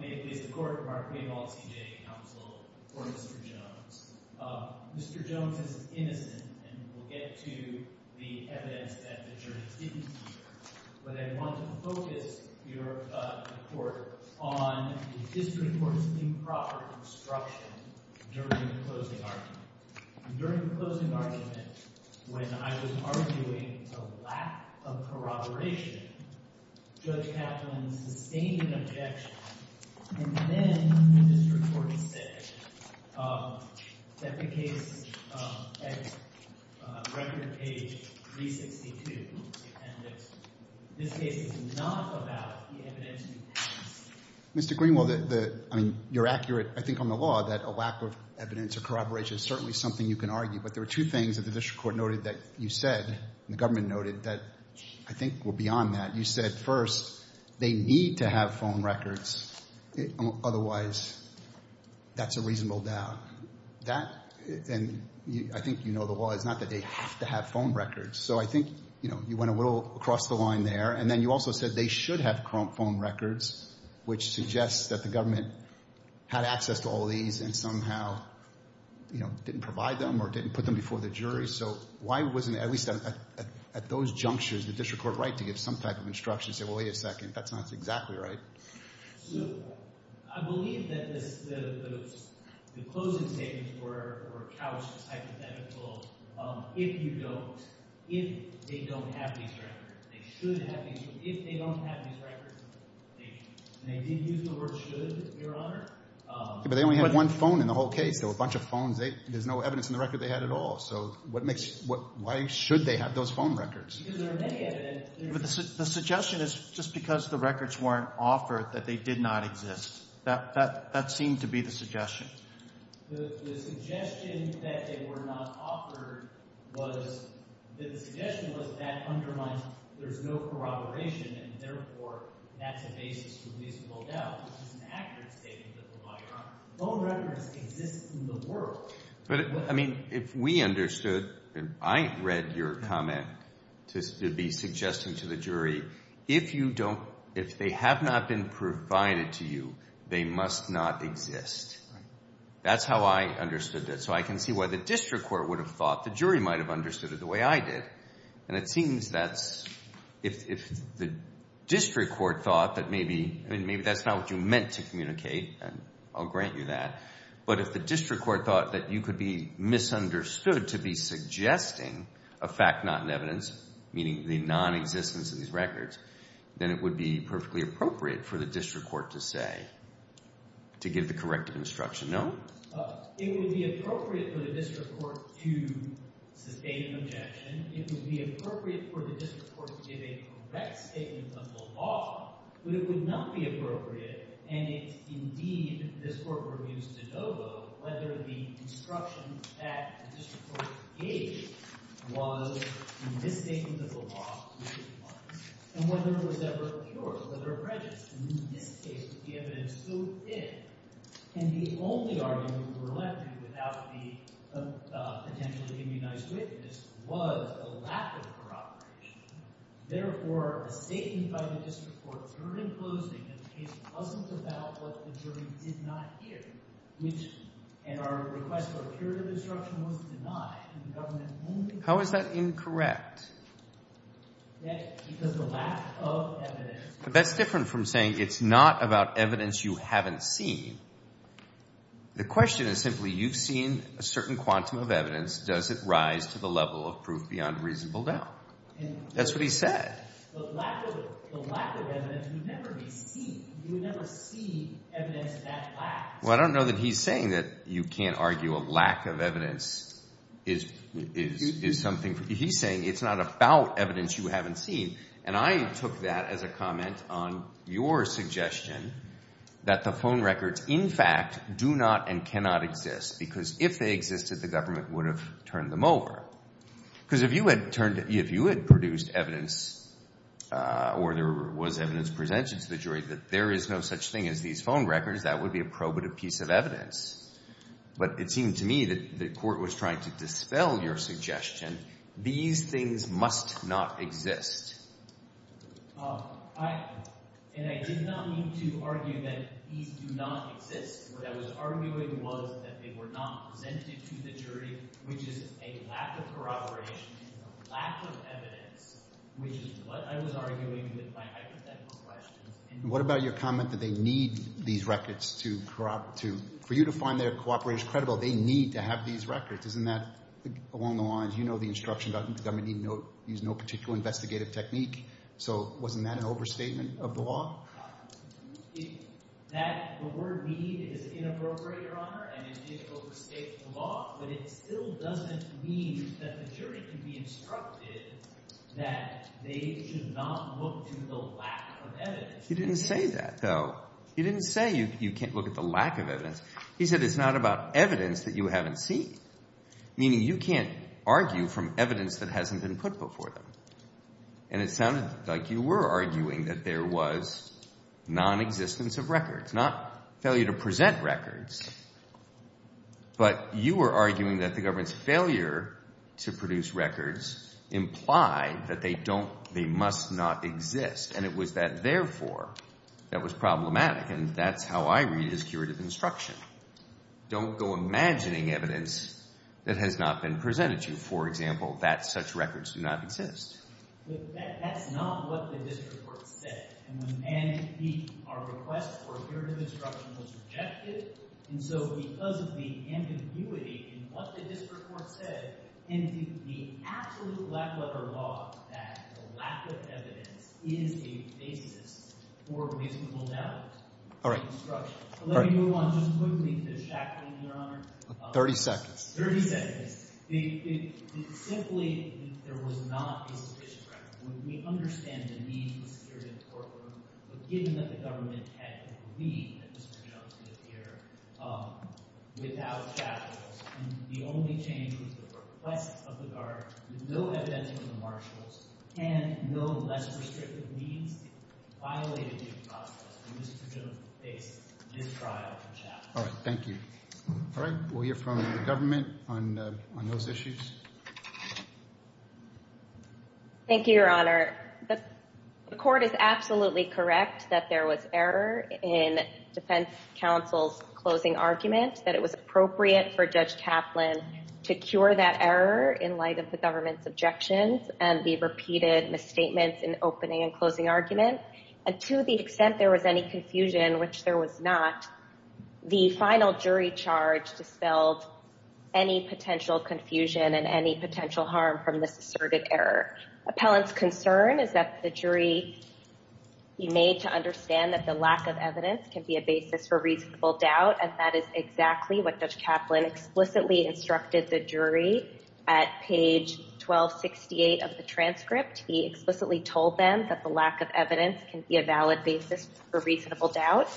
May it please the Court, Mark Maynold, CJA Counsel, for Mr. Jones. Mr. Jones is innocent, and we'll get to the evidence that the jury didn't hear, but I want to focus your report on the District Court's improper construction during the closing argument. During the closing argument, when I was arguing a lack of corroboration, Judge Kaplan sustained an objection and then the District Court said that the case at record page 362, and that this case is not about the evidence in the past. Mr. Greenwald, I mean, you're accurate, I think, on the law that a lack of evidence or corroboration is certainly something you can argue, but there are two things that the District Court noted that you said, and the government noted, that I think were beyond that. You said, first, they need to have phone records, otherwise, that's a reasonable doubt. That, and I think you know the law, it's not that they have to have phone records, so I think, you know, you went a little across the line there, and then you also said they should have phone records, which suggests that the government had access to all these and somehow, you know, didn't provide them or didn't put them before the jury, so why wasn't, at least at those junctures, the District Court right to give some type of instruction, say, well, wait a second, that's not exactly right. I believe that the closing statements were couched, hypothetical, if you don't, if they don't have these records. They should have these, but if they don't have these records, and they didn't use the word should, Your Honor, but they only had one phone in the whole case, there were a bunch of phones, there's no evidence in the record they had at all, so what makes, why should they have those phone records? Because there are many evidence. The suggestion is just because the records weren't offered, that they did not exist. That seemed to be the suggestion. The suggestion that they were not offered was, the suggestion was that undermines, there's no corroboration, and therefore, that's a basis for reasonable doubt, which is an accurate statement that the lawyer on phone records exists in the world. But, I mean, if we understood, I read your comment to be suggesting to the jury, if you don't, if they have not been provided to you, they must not exist. That's how I understood it, so I can see why the district court would have thought, the jury might have understood it the way I did, and it seems that's, if the district court thought that maybe, I mean, maybe that's not what you meant to communicate, and I'll grant you that, but if the district court thought that you could be misunderstood to be suggesting a fact not in evidence, meaning the non-existence of these records, then it would be perfectly appropriate for the district court to say, to give the corrective instruction, no? It would be appropriate for the district court to sustain an objection. It would be appropriate for the district court to give a correct statement of the law, but it would not be appropriate, and it's indeed, this court reviews de novo, whether the instruction that the district court gave was a misstatement of the law, and whether it was ever accursed, whether it was prejudiced, and in this case, the evidence still did, and the only argument we were left with without the potentially immunized witness was a lack of corroboration. Therefore, a statement by the district court was heard in closing, and the case wasn't about what the jury did not hear, which, and our request for a curative instruction was denied, and the government only. How is that incorrect? That, because the lack of evidence. That's different from saying it's not about evidence you haven't seen. The question is simply, you've seen a certain quantum of evidence, does it rise to the level of proof beyond reasonable doubt? That's what he said. The lack of evidence would never be seen. You would never see evidence that lacks. Well, I don't know that he's saying that you can't argue a lack of evidence is something, he's saying it's not about evidence you haven't seen, and I took that as a comment on your suggestion that the phone records, in fact, do not and cannot exist, because if they existed, the government would have turned them over. Because if you had turned, if you had produced evidence, or there was evidence presented to the jury, that there is no such thing as these phone records, that would be a probative piece of evidence. But it seemed to me that the court was trying to dispel your suggestion. These things must not exist. And I did not mean to argue that these do not exist. What I was arguing was that they were not presented to the jury, which is a lack of corroboration, a lack of evidence, which is what I was arguing with my hypothetical questions. What about your comment that they need these records to, for you to find their cooperators credible, they need to have these records. Isn't that, along the lines, you know the instruction about the government need no, use no particular investigative technique, so wasn't that an overstatement of the law? That, the word need is inappropriate, Your Honor, and it is overstatement of the law, but it still doesn't mean that the jury can be instructed that they should not look to the lack of evidence. He didn't say that, though. He didn't say you can't look at the lack of evidence. He said it's not about evidence that you haven't seen, meaning you can't argue from evidence that hasn't been put before them. And it sounded like you were arguing that there was nonexistence of records, not failure to present records, but you were arguing that the government's failure to produce records implied that they don't, they must not exist, and it was that, therefore, that was problematic, and that's how I read his curative instruction. Don't go imagining evidence that has not been presented to you, for example, that such records do not exist. But that's not what the district court said, and our request for curative instruction was rejected, and so because of the ambiguity in what the district court said, and the absolute lack of other law that the lack of evidence is a basis for reasonable doubt. Let me move on just quickly to the shackling, Your Honor. 30 seconds. 30 seconds. Simply, there was not a sufficient record. We understand the need for security in the courtroom, but given that the government had to believe that Mr. Jones could appear without shackles, the only change was the request of the guard with no evidence from the marshals, and no less restrictive means violated the process when Mr. Jones faced this trial in shackles. All right, thank you. All right, we'll hear from the government on those issues. Thank you, Your Honor. The court is absolutely correct that there was error in Defense Counsel's closing argument, that it was appropriate for Judge Kaplan to cure that error in light of the government's objections and the repeated misstatements in the opening and closing argument, and to the extent there was any confusion, which there was not, the final jury charge dispelled any potential confusion and any potential harm from this asserted error. Appellant's concern is that the jury be made to understand that the lack of evidence can be a basis for reasonable doubt, and that is exactly what Judge Kaplan explicitly instructed the jury at page 1268 of the transcript. He explicitly told them that the lack of evidence can be a valid basis for reasonable doubt,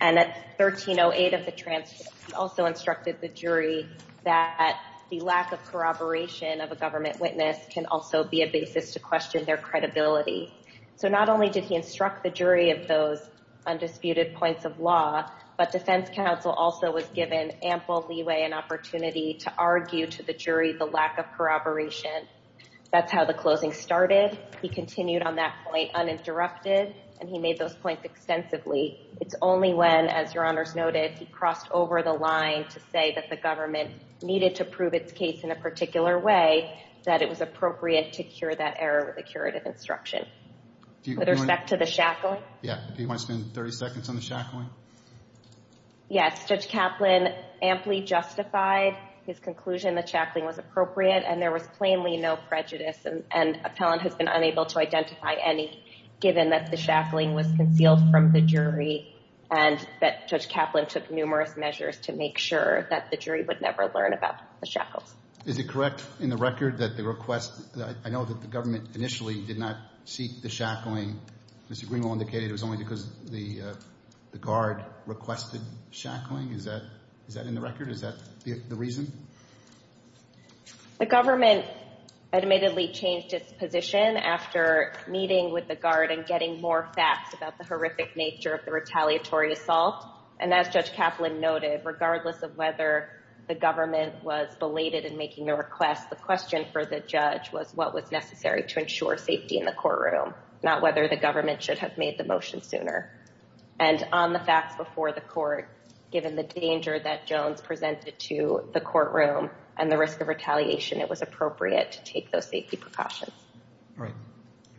and at 1308 of the transcript, he also instructed the jury that the lack of corroboration of a government witness can also be a basis to question their credibility. So not only did he instruct the jury of those undisputed points of law, but Defense Counsel also was given ample leeway and opportunity to argue to the jury the lack of corroboration. That's how the closing started. He continued on that point uninterrupted, and he made those points extensively. It's only when, as Your Honors noted, he crossed over the line to say that the government needed to prove its case in a particular way that it was appropriate to cure that error with a curative instruction. With respect to the shackling? Yeah, do you want to spend 30 seconds on the shackling? Yes, Judge Kaplan amply justified his conclusion the shackling was appropriate, and there was plainly no prejudice, and Appellant has been unable to identify any, given that the shackling was concealed from the jury, and that Judge Kaplan took numerous measures to make sure that the jury would never learn about the shackles. Is it correct in the record that the request, I know that the government initially did not seek the shackling. Mr. Greenwald indicated it was only because the guard requested shackling. Is that in the record? Is that the reason? The government admittedly changed its position after meeting with the guard and getting more facts about the horrific nature of the retaliatory assault, and as Judge Kaplan noted, regardless of whether the government was belated in making the request, the question for the judge was what was necessary to ensure safety in the courtroom, not whether the government should have made the motion sooner. And on the facts before the court, given the danger that Jones presented to the courtroom and the risk of retaliation, it was appropriate to take those safety precautions. Right.